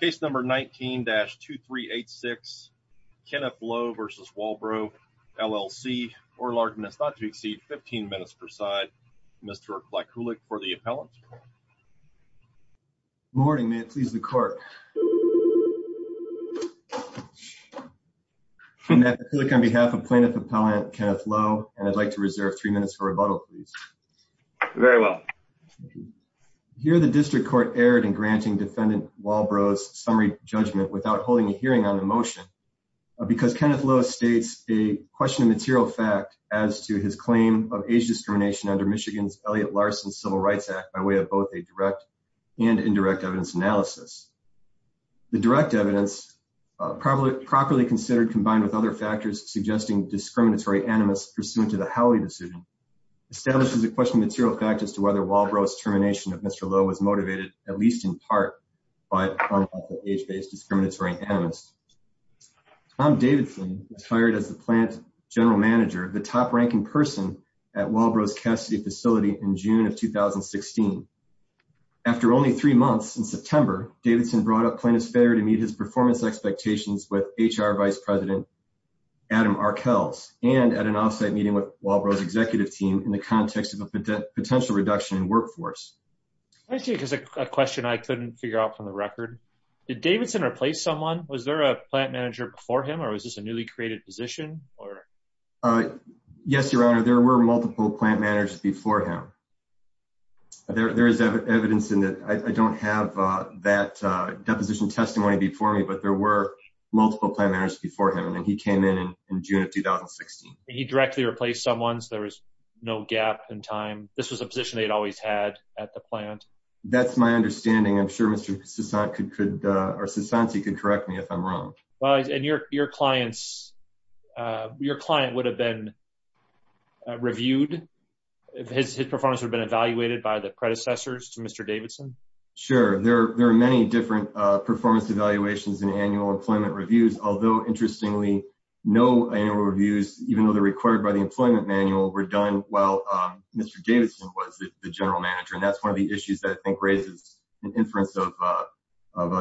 Case number 19-2386, Kenneth Lowe v. Walbro LLC, or largeness not to exceed 15 minutes per side. Mr. Klykulik for the appellant. Good morning, may it please the court. I'm Matt Klykulik on behalf of plaintiff appellant Kenneth Lowe, and I'd like to reserve three minutes for rebuttal, please. Very well. Here the district court erred in granting defendant Walbro's summary judgment without holding a hearing on the motion because Kenneth Lowe states a question of material fact as to his claim of age discrimination under Michigan's Elliott Larson Civil Rights Act by way of both a direct and indirect evidence analysis. The direct evidence probably properly considered combined with other factors suggesting discriminatory animus pursuant to the Walbro's termination of Mr. Lowe was motivated at least in part by age-based discriminatory animus. Tom Davidson was hired as the plant general manager, the top ranking person at Walbro's Cassidy facility in June of 2016. After only three months in September, Davidson brought up plaintiff's failure to meet his performance expectations with HR vice president Adam Arkels and at an offsite meeting with Walbro's executive team in the context of a potential reduction in workforce. I see there's a question I couldn't figure out from the record. Did Davidson replace someone? Was there a plant manager before him or was this a newly created position? Yes, your honor, there were multiple plant managers before him. There is evidence in that I don't have that deposition testimony before me, but there were multiple plant managers before him and he came in in June of 2016. He directly replaced someone so there was no gap in time. This was a position they'd always had at the plant. That's my understanding. I'm sure Mr. Sasanti could correct me if I'm wrong. And your client would have been reviewed? His performance would have been evaluated by the predecessors to Mr. Davidson? Sure, there are many different performance evaluations and annual employment reviews, although interestingly no annual reviews, even though they're required by the Mr. Davidson was the general manager and that's one of the issues that I think raises an inference of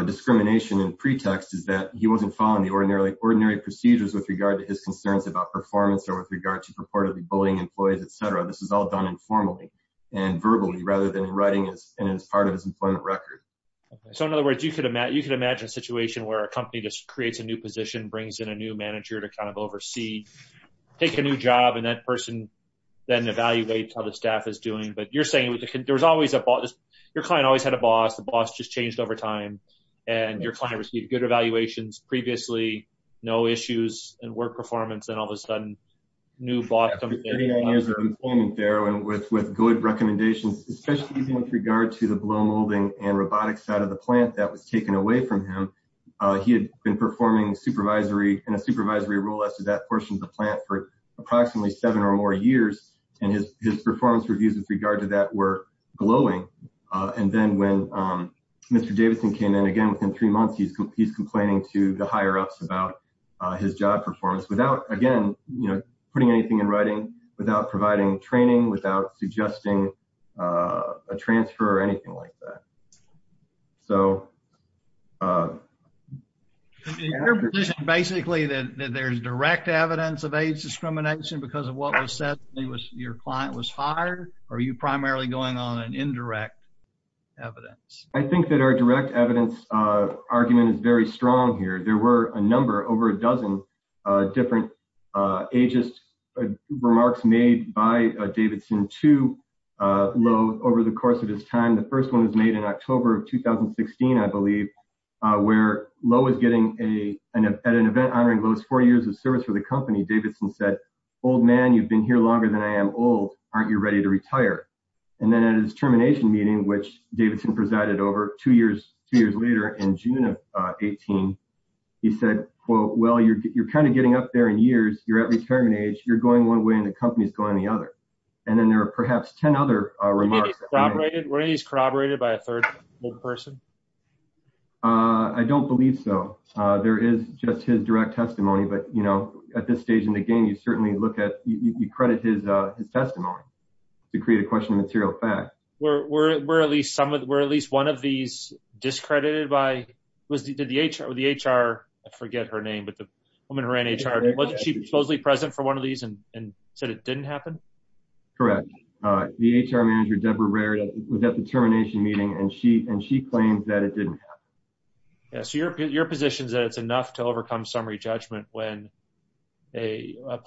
discrimination and pretext is that he wasn't following the ordinary procedures with regard to his concerns about performance or with regard to purportedly bullying employees, etc. This is all done informally and verbally rather than in writing and as part of his employment record. So in other words, you could imagine a situation where a company just creates a new position, brings in a new manager to oversee, take a new job and that person then evaluates how the staff is doing. But you're saying your client always had a boss, the boss just changed over time, and your client received good evaluations previously, no issues in work performance and all of a sudden new boss comes in. With good recommendations, especially with regard to the blow molding and robotics side of the plant that was taken away from him, he had been performing in a supervisory role as to that portion of the plant for approximately seven or more years and his performance reviews with regard to that were glowing. And then when Mr. Davidson came in again within three months, he's complaining to the higher-ups about his job performance without again, you know, putting anything in writing, without providing training, without suggesting a transfer or anything like that. So... In your position, basically, that there's direct evidence of age discrimination because of what was said, your client was hired, or are you primarily going on an indirect evidence? I think that our direct evidence argument is very strong here. There were a number, over a dozen, different ageist remarks made by Davidson to Lowe over the course of his time. The first one was made in October of 2016, I believe, where Lowe was getting an event honoring Lowe's four years of service for the company. Davidson said, old man, you've been here longer than I am old. Aren't you ready to retire? And then at his termination meeting, which Davidson presided over two years later, in June of 18, he said, well, you're kind of getting up there in years, you're at retirement age, you're going one way and the company's going the other. And then there are perhaps 10 other remarks. Were any of these corroborated by a third person? I don't believe so. There is just his direct testimony. But, you know, at this stage in the game, you certainly look at, you credit his testimony to create a question of material fact. Were at least one of these discredited by, was the HR, I forget her name, but the woman who ran HR, was she supposedly present for one of these and said it didn't happen? Correct. The HR manager, Deborah Rarida, was at the termination meeting and she claimed that it didn't happen. So your position is that it's enough to overcome summary judgment when a and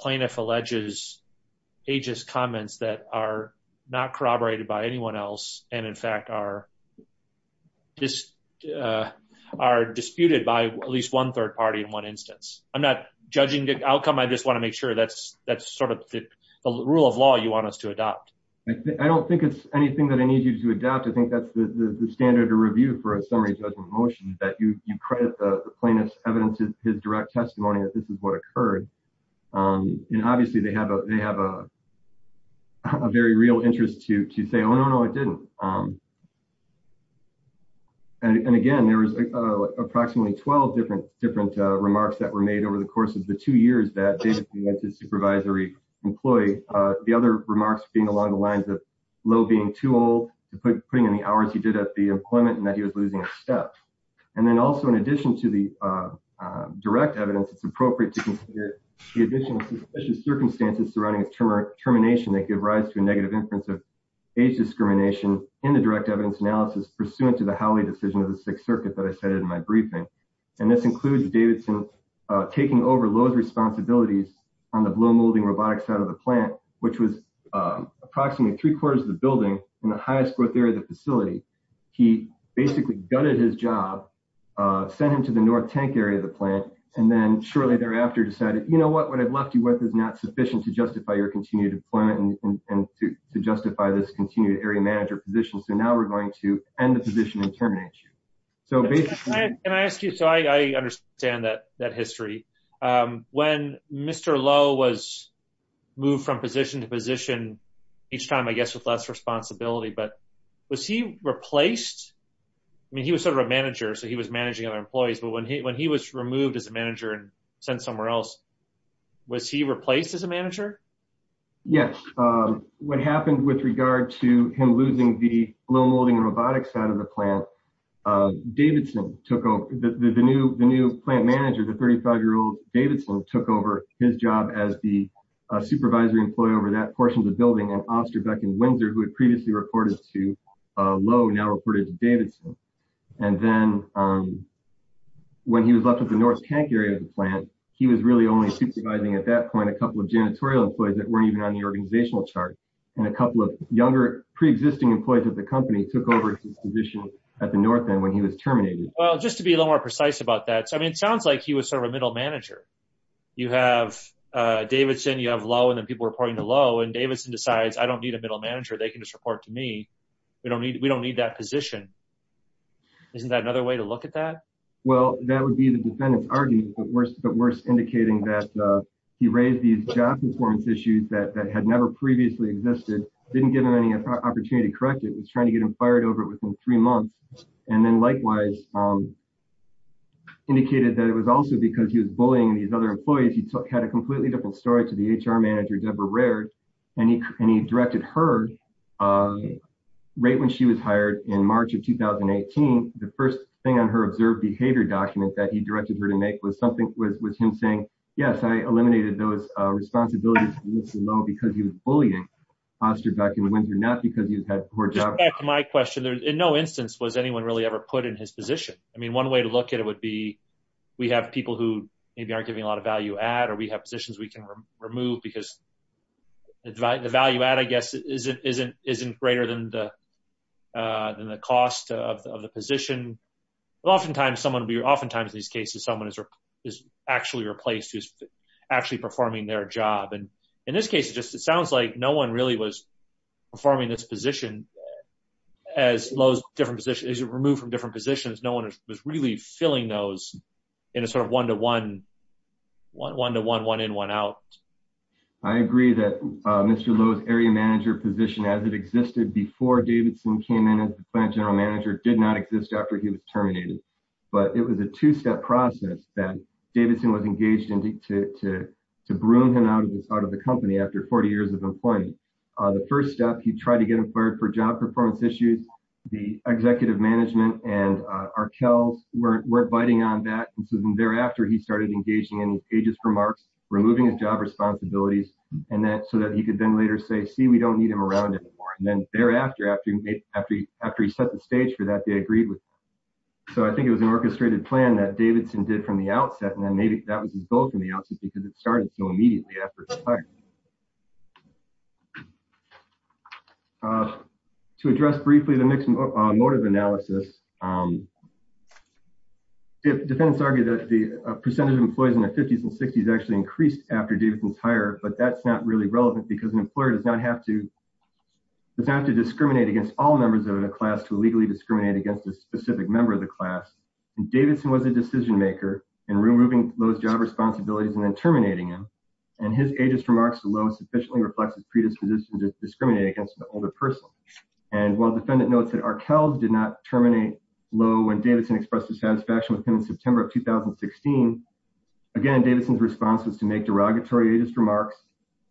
in fact are disputed by at least one third party in one instance. I'm not judging the outcome. I just want to make sure that's sort of the rule of law you want us to adopt. I don't think it's anything that I need you to adopt. I think that's the standard to review for a summary judgment motion, that you credit the plaintiff's evidence, his direct testimony that this is what it didn't. And again, there was approximately 12 different, different remarks that were made over the course of the two years that David went to supervisory employee. The other remarks being along the lines of Lowe being too old to put putting in the hours he did at the employment and that he was losing a step. And then also in addition to the direct evidence, it's appropriate to consider the addition of suspicious circumstances surrounding his term termination that give rise to a negative inference of age discrimination in the direct evidence analysis pursuant to the Howley decision of the sixth circuit that I said in my briefing. And this includes Davidson taking over Lowe's responsibilities on the blue molding robotics side of the plant, which was approximately three quarters of the building in the highest growth area of the facility. He basically gutted his job, sent him to the North tank area of the plant, and then shortly thereafter decided, you know what, what I've left you with is not to justify this continued area manager position. So now we're going to end the position and terminate you. So basically. Can I ask you, so I understand that, that history when Mr. Lowe was moved from position to position each time, I guess with less responsibility, but was he replaced? I mean, he was sort of a manager, so he was managing other employees, but when he, when he was removed as a manager and sent somewhere else, was he replaced as a manager? Yes. What happened with regard to him losing the blue molding robotics side of the plant, Davidson took over the new, the new plant manager, the 35 year old Davidson took over his job as the supervisory employee over that portion of the building and Osterbeck and Windsor who had previously reported to Lowe now reported to Davidson. And then when he was left with the North tank area of the plant, he was really only supervising at that point, a couple of janitorial employees that weren't even on the organizational chart and a couple of younger preexisting employees at the company took over his position at the North end when he was terminated. Well, just to be a little more precise about that. So, I mean, it sounds like he was sort of a middle manager. You have a Davidson, you have Lowe and then people were reporting to Lowe and Davidson decides I don't need a middle manager. They can just report to me. We don't need, we don't need that position. Isn't that another way to look at that? Well, that would be the defendant's argument, but worse, but worse indicating that he raised these job performance issues that had never previously existed. Didn't give him any opportunity to correct it. It was trying to get him fired over it within three months. And then likewise indicated that it was also because he was bullying these other employees. He had a completely different story to the HR manager, Debra Rared, and he, and he directed her right when she was hired in March of 2018, the first thing on her observed behavior document that he directed her to make was something was, was him saying, yes, I eliminated those responsibilities because he was bullying posture back in the winter, not because you've had poor job. My question there in no instance, was anyone really ever put in his position? I mean, one way to look at it would be, we have people who maybe aren't giving a lot of value add, or we have positions we can remove because the value add, I guess isn't, isn't, isn't greater than the, than the cost of the position. Oftentimes someone will be, oftentimes in these cases, someone is, is actually replaced, who's actually performing their job. And in this case, it just, it sounds like no one really was performing this position as Lowe's different position is removed from different positions. No one was really filling those in a sort of one-to-one, one-to-one, one in, one out. I agree that Mr. Lowe's area manager position as it existed before Davidson came in as the plant general manager did not exist after he was terminated, but it was a two-step process that Davidson was engaged in to, to, to broom him out of this, out of the company after 40 years of employment, the first step, he tried to get him fired for job performance issues. The executive management and Arkell weren't, weren't biting on that. And so thereafter he started engaging in pages for marks, removing his job responsibilities and that, so that he could then later say, see, we don't need him around anymore. And then thereafter, after he, after he, after he set the stage for that, they agreed with, so I think it was an orchestrated plan that Davidson did from the outset. And then maybe that was his goal from the outset because it started so immediately after his fire. To address briefly the mixed motive analysis, defendants argue that the percentage of employees in their fifties and sixties actually increased after Davidson's hire, but that's not really relevant because an employer does not have to, does not have to discriminate against all members of the class to legally discriminate against a specific member of the class. And Davidson was a decision maker in removing those job responsibilities and then terminating him. And his ageist remarks to Lowe sufficiently reflects his predisposition to discriminate against an older person. And while defendant notes that Arkell did not terminate Lowe when Davidson expressed his satisfaction with him in September of 2016, again, Davidson's response was to make derogatory ageist remarks,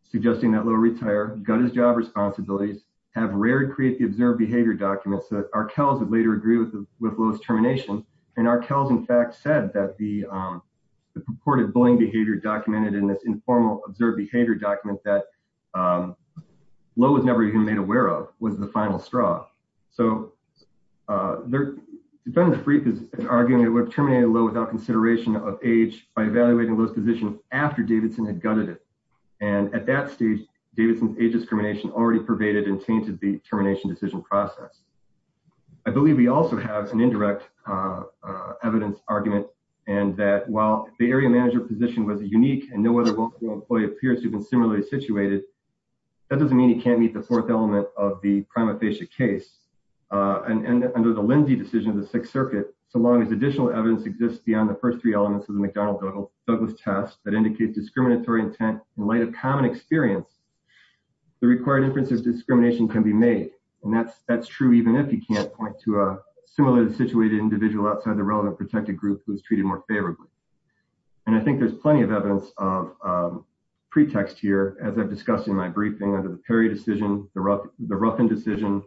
suggesting that Lowe retire, gut his job responsibilities, have Rarid create the observed behavior documents that Arkell's would later agree with Lowe's termination. And Arkell's in fact said that the purported bullying behavior documented in this informal observed behavior document that Lowe was never even made aware of was the final straw. So, defendant's brief is arguing that it would have terminated Lowe without consideration of age by evaluating Lowe's position after Davidson had gutted it. And at that stage, Davidson's age discrimination already pervaded and tainted the termination decision process. I believe we also have some indirect evidence argument and that while the area manager position was a unique and no other local employee appears to have been similarly situated, that doesn't mean he can't meet the fourth element of the prima facie case. And under the Lindsay decision of the Sixth Circuit, so long as additional evidence exists beyond the first three elements of the McDonald-Douglas test that indicate discriminatory intent in light of common experience, the required inference of discrimination can be made. And that's true even if he can't point to a similarly situated individual outside the relevant protected group who is treated more favorably. And I think there's plenty of evidence of pretext here, as I've discussed in my briefing under the Perry decision, the Ruffin decision,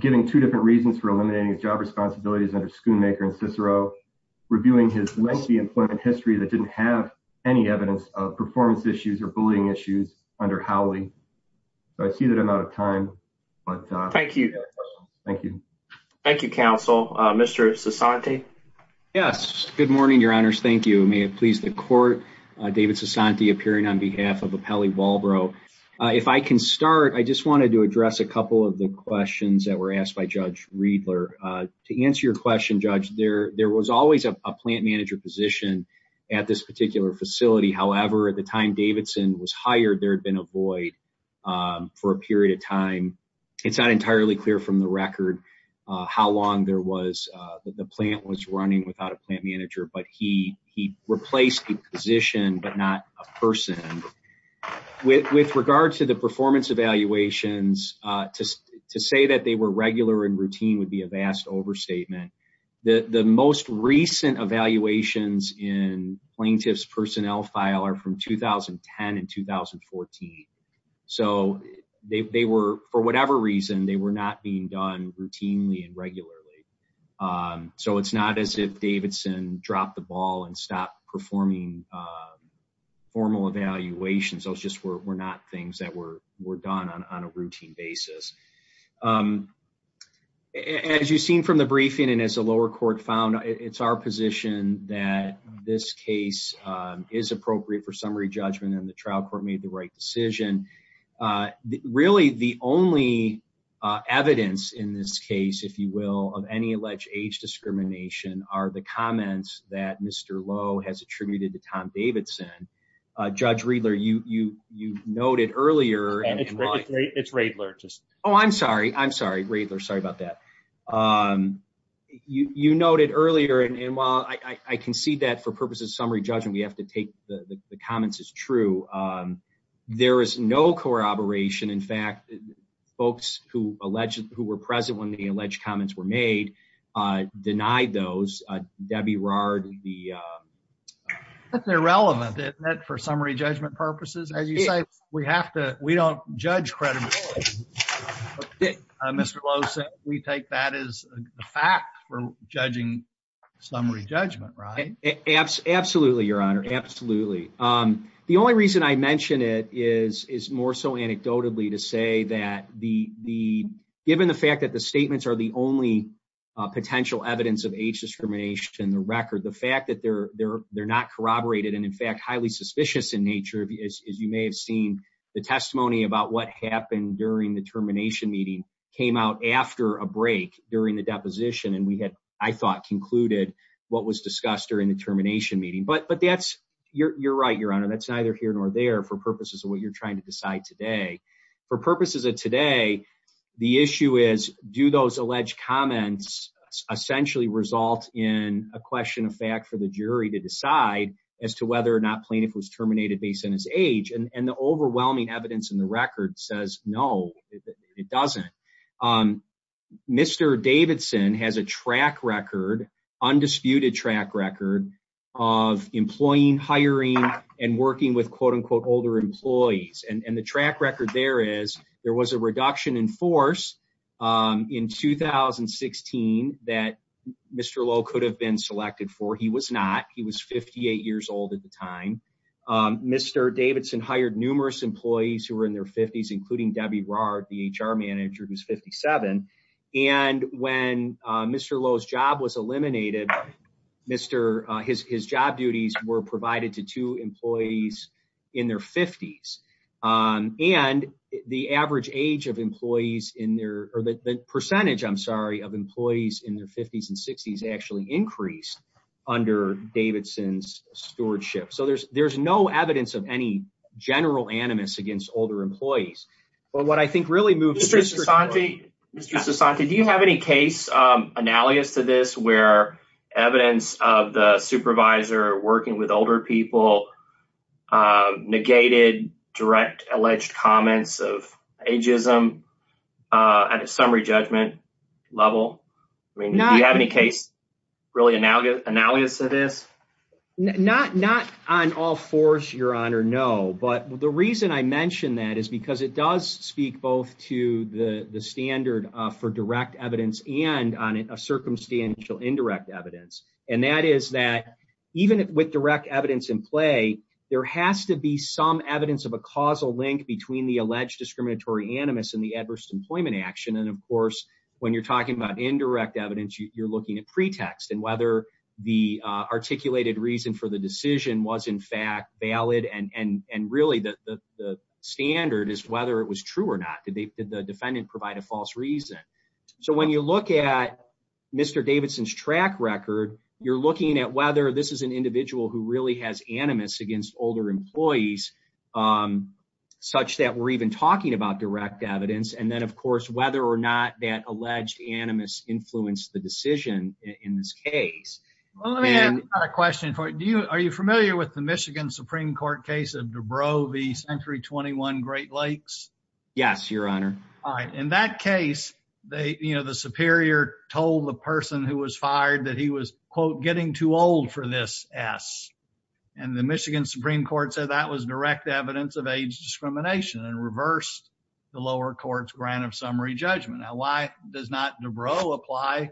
giving two different reasons for eliminating his job responsibilities under Schoonmaker and any evidence of performance issues or bullying issues under Howley. So I see that I'm out of time, but thank you. Thank you. Thank you, counsel. Mr. Sassanti. Yes. Good morning, your honors. Thank you. May it please the court, David Sassanti appearing on behalf of Appelli Walbro. If I can start, I just wanted to address a couple of the questions that were asked by Judge Riedler. To answer your question, judge, there was always a plant manager position at this particular facility, however, at the time Davidson was hired, there had been a void for a period of time. It's not entirely clear from the record how long there was that the plant was running without a plant manager, but he replaced the position, but not a person. With regard to the performance evaluations, to say that they were regular and routine would be a vast overstatement. The most recent evaluations in plaintiff's personnel file are from 2010 and 2014. So they were, for whatever reason, they were not being done routinely and regularly. So it's not as if Davidson dropped the ball and stopped performing formal evaluations, those just were not things that were done on a routine basis. As you've seen from the briefing and as the lower court found, it's our position that this case is appropriate for summary judgment and the trial court made the right decision. Really the only evidence in this case, if you will, of any alleged age discrimination are the comments that Mr. Lowe has attributed to Tom Davidson. Judge Riedler, you noted earlier. It's Riedler. Oh, I'm sorry. I'm sorry. Riedler. Sorry about that. You noted earlier. And while I concede that for purposes of summary judgment, we have to take the comments as true. There is no corroboration. In fact, folks who were present when the alleged comments were made, denied those. Debbie Rard, the- That's irrelevant for summary judgment purposes. As you say, we have to, we don't judge credibility. Mr. Lowe said we take that as a fact for judging summary judgment, right? Absolutely, Your Honor. Absolutely. The only reason I mentioned it is more so anecdotally to say that given the fact that the statements are the only potential evidence of age discrimination in the record, the fact that they're not corroborated and in fact highly suspicious in nature, as you may have seen the testimony about what happened during the termination meeting came out after a break during the deposition, and we had, I thought concluded what was discussed during the termination meeting, but, but that's, you're, you're right, Your Honor. That's neither here nor there for purposes of what you're trying to decide today. For purposes of today, the issue is do those alleged comments essentially result in a question of fact for the jury to decide as to whether or not plaintiff was terminated based on his age. And the overwhelming evidence in the record says, no, it doesn't. Mr. Davidson has a track record, undisputed track record of employing, hiring, and working with quote unquote older employees. And the track record there is there was a reduction in force in 2016 that Mr. Lowe could have been selected for. He was not, he was 58 years old at the time. Mr. Davidson hired numerous employees who were in their fifties, including Debbie Rahr, the HR manager, who's 57. And when Mr. Lowe's job was eliminated, Mr his, his job duties were provided to two employees in their fifties and the average age of employees in their, or the percentage, I'm sorry, of employees in their fifties and sixties actually increased under Davidson's stewardship. So there's, there's no evidence of any general animus against older employees. But what I think really moved Mr. Sasanti, Mr. Sasanti, do you have any case, um, analogous to this where evidence of the supervisor working with older people, uh, negated direct alleged comments of ageism, uh, at a summary judgment level. I mean, do you have any case really analogous to this? Not, not on all fours, your honor. No, but the reason I mentioned that is because it does speak both to the standard for direct evidence and on a circumstantial indirect evidence. And that is that even with direct evidence in play, there has to be some evidence of a causal link between the alleged discriminatory animus and the adverse employment action. And of course, when you're talking about indirect evidence, you're looking at pretext and whether the, uh, articulated reason for the decision was in fact valid and, and, and really the, the, the standard is whether it was true or not, did they, did the defendant provide a false reason? So when you look at Mr. Davidson's track record, you're looking at whether this is an individual who really has animus against older employees, um, such that we're even talking about direct evidence. And then of course, whether or not that alleged animus influenced the decision in this case. Well, let me ask a question for you. Are you familiar with the Michigan Supreme Court case of Dubrow v. Century 21 Great Lakes? Yes, your honor. All right. In that case, they, you know, the superior told the person who was fired that he was quote, getting too old for this S and the Michigan Supreme Court said that was direct evidence of age discrimination and reversed the lower court's grant of summary judgment. Now, why does not Dubrow apply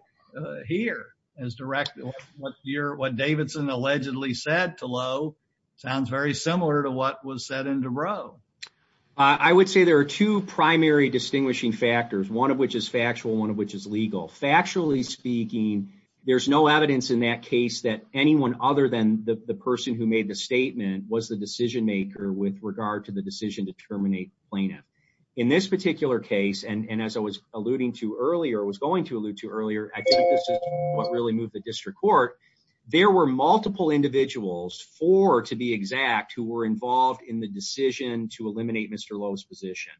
here as direct, what you're, what Davidson allegedly said to Lowe sounds very similar to what was said in Dubrow. I would say there are two primary distinguishing factors. One of which is factual. One of which is legal. Factually speaking, there's no evidence in that case that anyone other than the person who made the statement was the decision maker with regard to the decision to terminate plaintiff. In this particular case. And as I was alluding to earlier, it was going to allude to earlier. I think this is what really moved the district court. There were multiple individuals for, to be exact, who were involved in the decision to eliminate Mr. Lowe's position.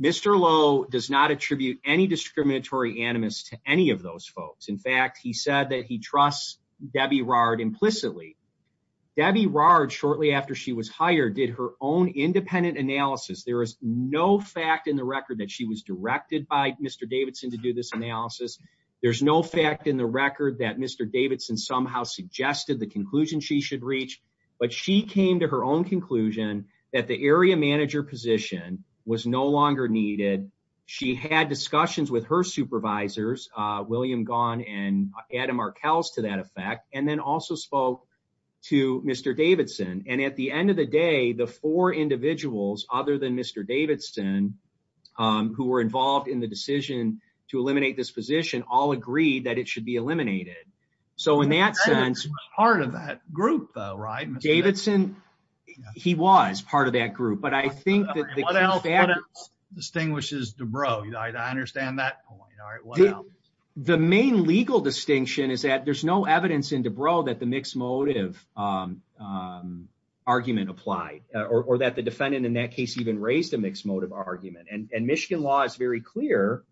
Mr. Lowe does not attribute any discriminatory animus to any of those folks. In fact, he said that he trusts Debbie Rard implicitly. Debbie Rard shortly after she was hired, did her own independent analysis. There is no fact in the record that she was directed by Mr. Davidson to do this analysis. There's no fact in the record that Mr. Davidson somehow suggested the conclusion she should reach, but she came to her own conclusion that the area manager position was no longer needed. She had discussions with her supervisors, William Gahn and Adam Markels to that effect, and then also spoke to Mr. Davidson. And at the end of the day, the four individuals, other than Mr. Davidson, who were involved in the decision to eliminate this position, all agreed that it should be eliminated. So in that sense, Davidson, he was part of that group. But I think that what else distinguishes Dubrow? I understand that. The main legal distinction is that there's no evidence in Dubrow that the argument applied or that the defendant in that case even raised a mixed motive argument. And Michigan law is very clear,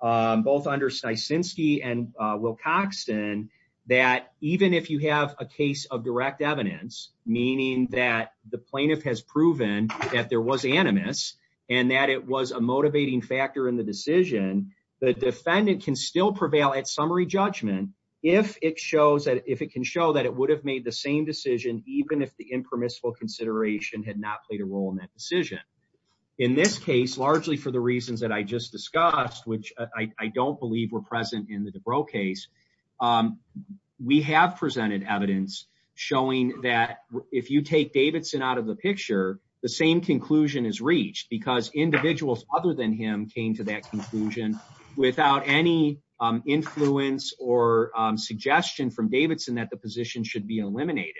both under Stysinski and Will Coxton, that even if you have a case of direct evidence, meaning that the plaintiff has proven that there was animus and that it was a motivating factor in the decision, the defendant can still prevail at summary judgment if it shows that if it can show that it would have made the same decision, even if the impermissible consideration had not played a role in that decision. In this case, largely for the reasons that I just discussed, which I don't believe were present in the Dubrow case, we have presented evidence showing that if you take Davidson out of the picture, the same conclusion is reached because individuals other than him came to that conclusion without any influence or suggestion from Davidson that the position should be eliminated.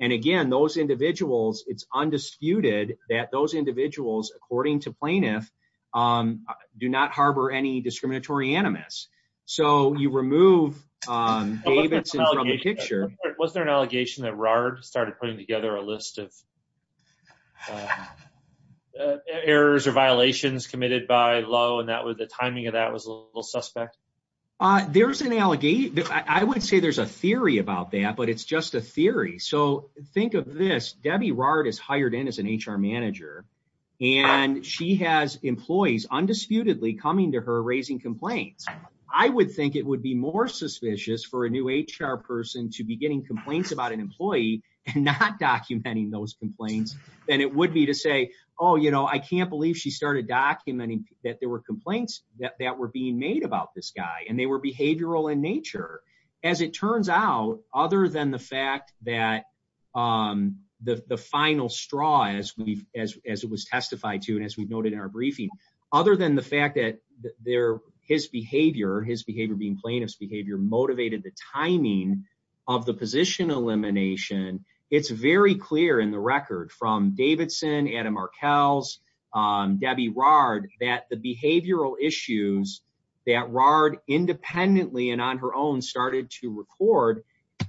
And again, those individuals, it's undisputed that those individuals, according to plaintiff, do not harbor any discriminatory animus. So you remove Davidson from the picture. Was there an allegation that RARD started putting together a list of errors or violations committed by Lowe and the timing of that was a little suspect? There's an allegation. I would say there's a theory about that, but it's just a theory. So think of this. Debbie RARD is hired in as an HR manager and she has employees undisputedly coming to her raising complaints. I would think it would be more suspicious for a new HR person to be getting complaints about an employee and not documenting those complaints than it would be to say, oh, you know, I can't believe she started documenting that there were complaints that were being made about this guy and they were behavioral in nature. As it turns out, other than the fact that the final straw, as it was testified to, and as we've noted in our briefing, other than the fact that his behavior, his behavior being plaintiff's behavior, motivated the timing of the position elimination, it's very clear in the record from Davidson, Adam Markels, Debbie RARD, that the behavioral issues that RARD independently and on her own started to record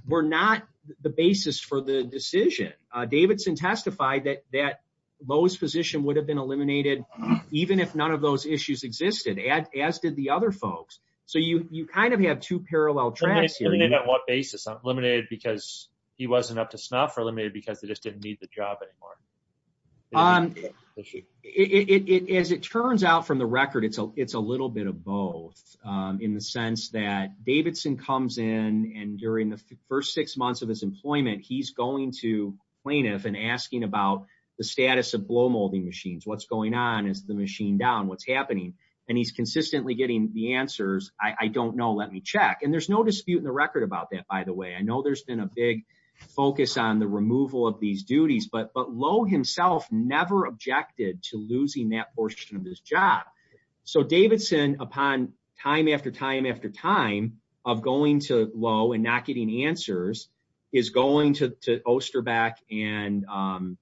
were not the basis for the decision. Davidson testified that Lowe's position would have been eliminated even if none of those issues existed, as did the other folks. So you kind of have two parallel tracks here. Eliminated on what basis? Eliminated because he wasn't up to snuff or eliminated because they just didn't need the job anymore? As it turns out from the record, it's a little bit of both in the sense that Davidson comes in and during the first six months of his employment, he's going to plaintiff and asking about the status of blow molding machines. What's going on? Is the machine down? What's happening? And he's consistently getting the answers. I don't know. Let me check. And there's no dispute in the record about that, by the way. I know there's been a big focus on the removal of these duties, but Lowe himself never objected to losing that portion of his job. So Davidson, upon time after time after time of going to Lowe and not getting answers, is going to Osterbeck and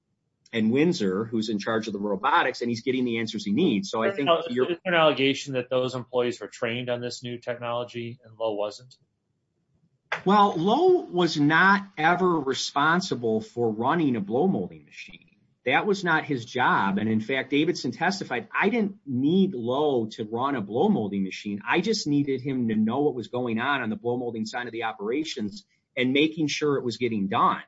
Windsor, who's in charge of the robotics, and he's getting the answers he needs. So I think you're- Is it an allegation that those employees were trained on this new technology and Lowe wasn't? Well, Lowe was not ever responsible for running a blow molding machine. That was not his job. And in fact, Davidson testified, I didn't need Lowe to run a blow molding machine. I just needed him to know what was going on on the blow molding side of the operations and making sure it was getting done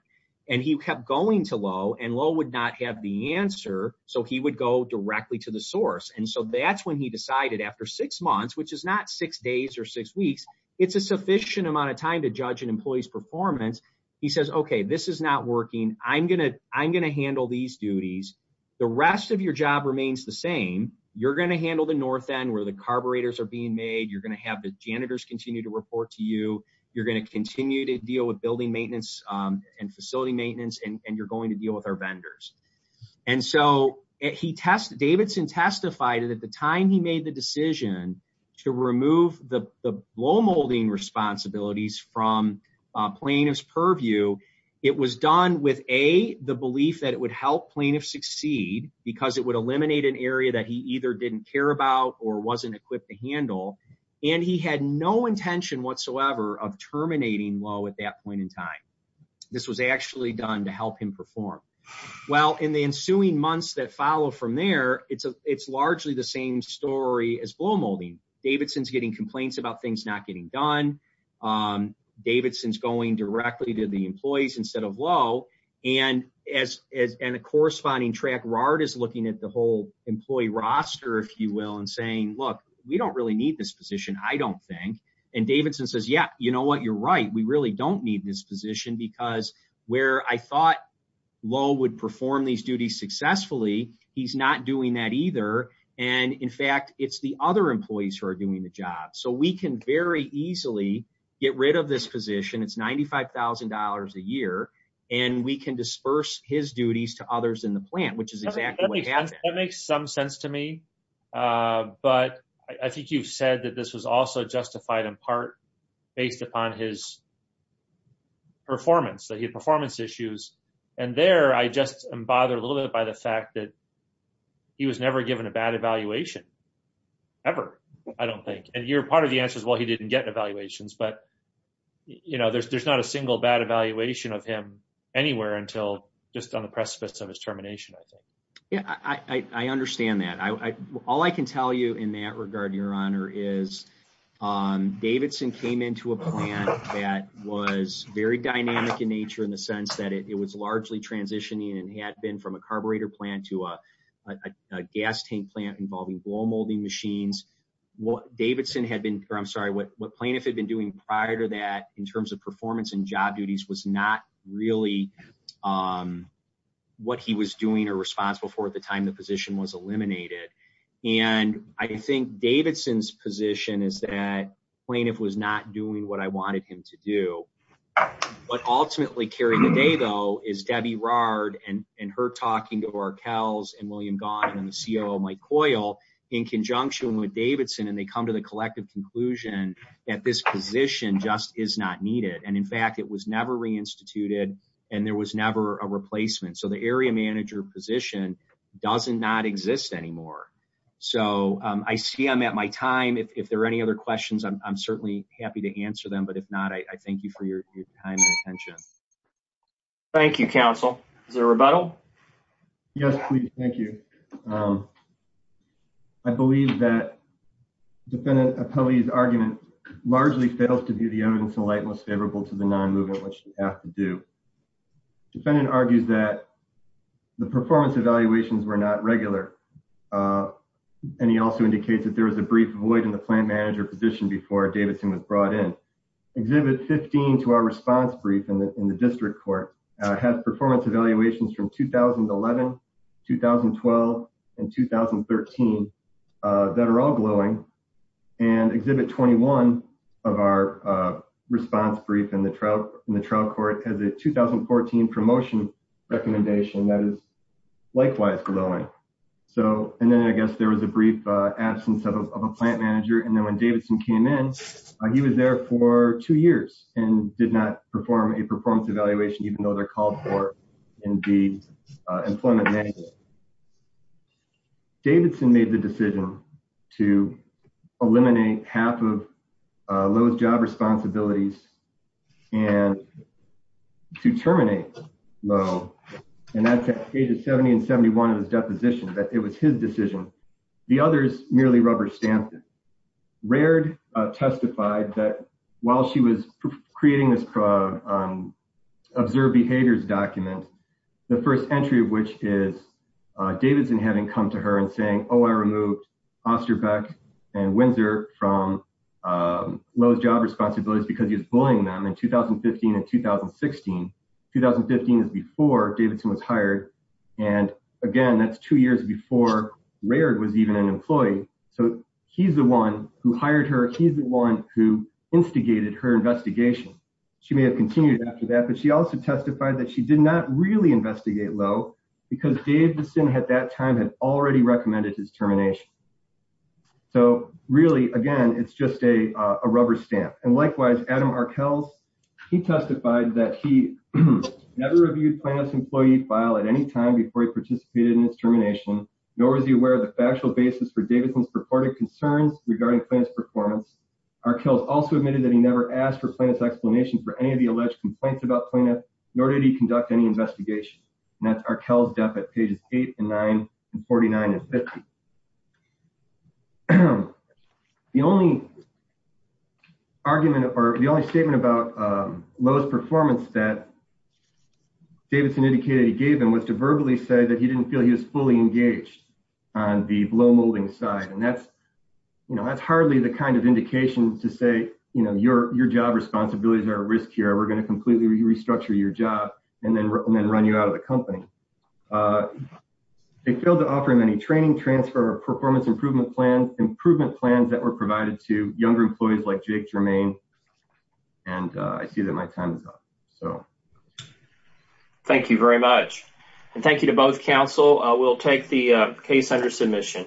and he kept going to Lowe and Lowe would not have the answer, so he would go directly to the source and so that's when he decided after six months, which is not six days or six weeks, it's a sufficient amount of time to judge an employee's performance. He says, okay, this is not working. I'm going to handle these duties. The rest of your job remains the same. You're going to handle the north end where the carburetors are being made. You're going to have the janitors continue to report to you. You're going to continue to deal with building maintenance and facility maintenance, and you're going to deal with our vendors. And so Davidson testified that at the time he made the decision to remove the blow molding responsibilities from plaintiff's purview, it was done with A, the belief that it would help plaintiff succeed because it would eliminate an area that he either didn't care about or wasn't equipped to handle. And he had no intention whatsoever of terminating Lowe at that point in time. This was actually done to help him perform. Well, in the ensuing months that follow from there, it's largely the same story as blow molding. Davidson's getting complaints about things not getting done. Davidson's going directly to the employees instead of Lowe. And as in a corresponding track, RARD is looking at the whole employee roster, if you will, and saying, look, we don't really need this position. I don't think. And Davidson says, yeah, you know what? You're right. We really don't need this position because where I thought Lowe would perform these duties successfully, he's not doing that either. And in fact, it's the other employees who are doing the job. So we can very easily get rid of this position. It's $95,000 a year. And we can disperse his duties to others in the plant, which is exactly what happens. That makes some sense to me. But I think you've said that this was also justified in part based upon his performance, that he had performance issues. And there, I just am bothered a little bit by the fact that he was never given a bad evaluation ever. I don't think, and you're part of the answer is, well, he didn't get evaluations, but there's not a single bad evaluation of him anywhere until just on the precipice of his termination, I think. Yeah, I understand that. All I can tell you in that regard, your honor, is Davidson came into a plant that was very dynamic in nature in the sense that it was largely transitioning and had been from a carburetor plant to a gas tank plant involving wall molding machines. What Davidson had been, or I'm sorry, what plaintiff had been doing prior to that in terms of performance and job duties was not really what he was doing or responsible for at the time the position was eliminated. And I think Davidson's position is that plaintiff was not doing what I wanted him to do, but ultimately carrying the day though is Debbie Rahrd and her talking to Davidson and they come to the collective conclusion that this position just is not needed. And in fact, it was never reinstituted and there was never a replacement. So the area manager position doesn't not exist anymore. So I see I'm at my time. If there are any other questions, I'm certainly happy to answer them. But if not, I thank you for your time and attention. Thank you, counsel. Is there a rebuttal? Yes, please. Thank you. Um, I believe that defendant's argument largely fails to be the evidence in light most favorable to the non-movement, which you have to do. Defendant argues that the performance evaluations were not regular. Uh, and he also indicates that there was a brief void in the plant manager position before Davidson was brought in. Exhibit 15 to our response brief in the district court has performance evaluations from 2011, 2012, and 2013, uh, that are all glowing and exhibit 21 of our, uh, response brief in the trial in the trial court as a 2014 promotion recommendation that is likewise glowing. So, and then I guess there was a brief absence of a plant manager. And then when Davidson came in, he was there for two years and did not perform a employment manager Davidson made the decision to eliminate half of, uh, low job responsibilities and to terminate low and that's at ages 70 and 71. It was deposition that it was his decision. The others merely rubber stamped it. Rared, uh, testified that while she was creating this, uh, um, observed behaviors document, the first entry of which is, uh, Davidson having come to her and saying, oh, I removed Osterbeck and Windsor from, um, low job responsibilities because he was bullying them in 2015 and 2016, 2015 is before Davidson was hired and again, that's two years before Rared was even an employee. So he's the one who hired her. He's the one who instigated her investigation. She may have continued after that, but she also testified that she did not really investigate low because Davidson had that time had already recommended his termination. So really, again, it's just a, uh, a rubber stamp. And likewise, Adam Arkells, he testified that he never reviewed plaintiff's employee file at any time before he participated in his termination. Nor is he aware of the factual basis for Davidson's purported concerns regarding plaintiff's performance. Arkells also admitted that he never asked for plaintiff's explanation for any of the alleged complaints about plaintiff, nor did he conduct any investigation and that's Arkell's debit pages eight and nine and 49 and 50. The only argument or the only statement about, um, lowest performance that Davidson indicated he gave him was to verbally say that he didn't feel he was fully engaged on the blow molding side. And that's, you know, that's hardly the kind of indication to say, you know, your, your job responsibilities are at risk here. We're going to completely restructure your job and then run you out of the company. Uh, they failed to offer him any training, transfer performance, improvement plans, improvement plans that were provided to younger employees like Jake Germain, and, uh, I see that my time is up, so. Thank you very much. And thank you to both council. I will take the case under submission.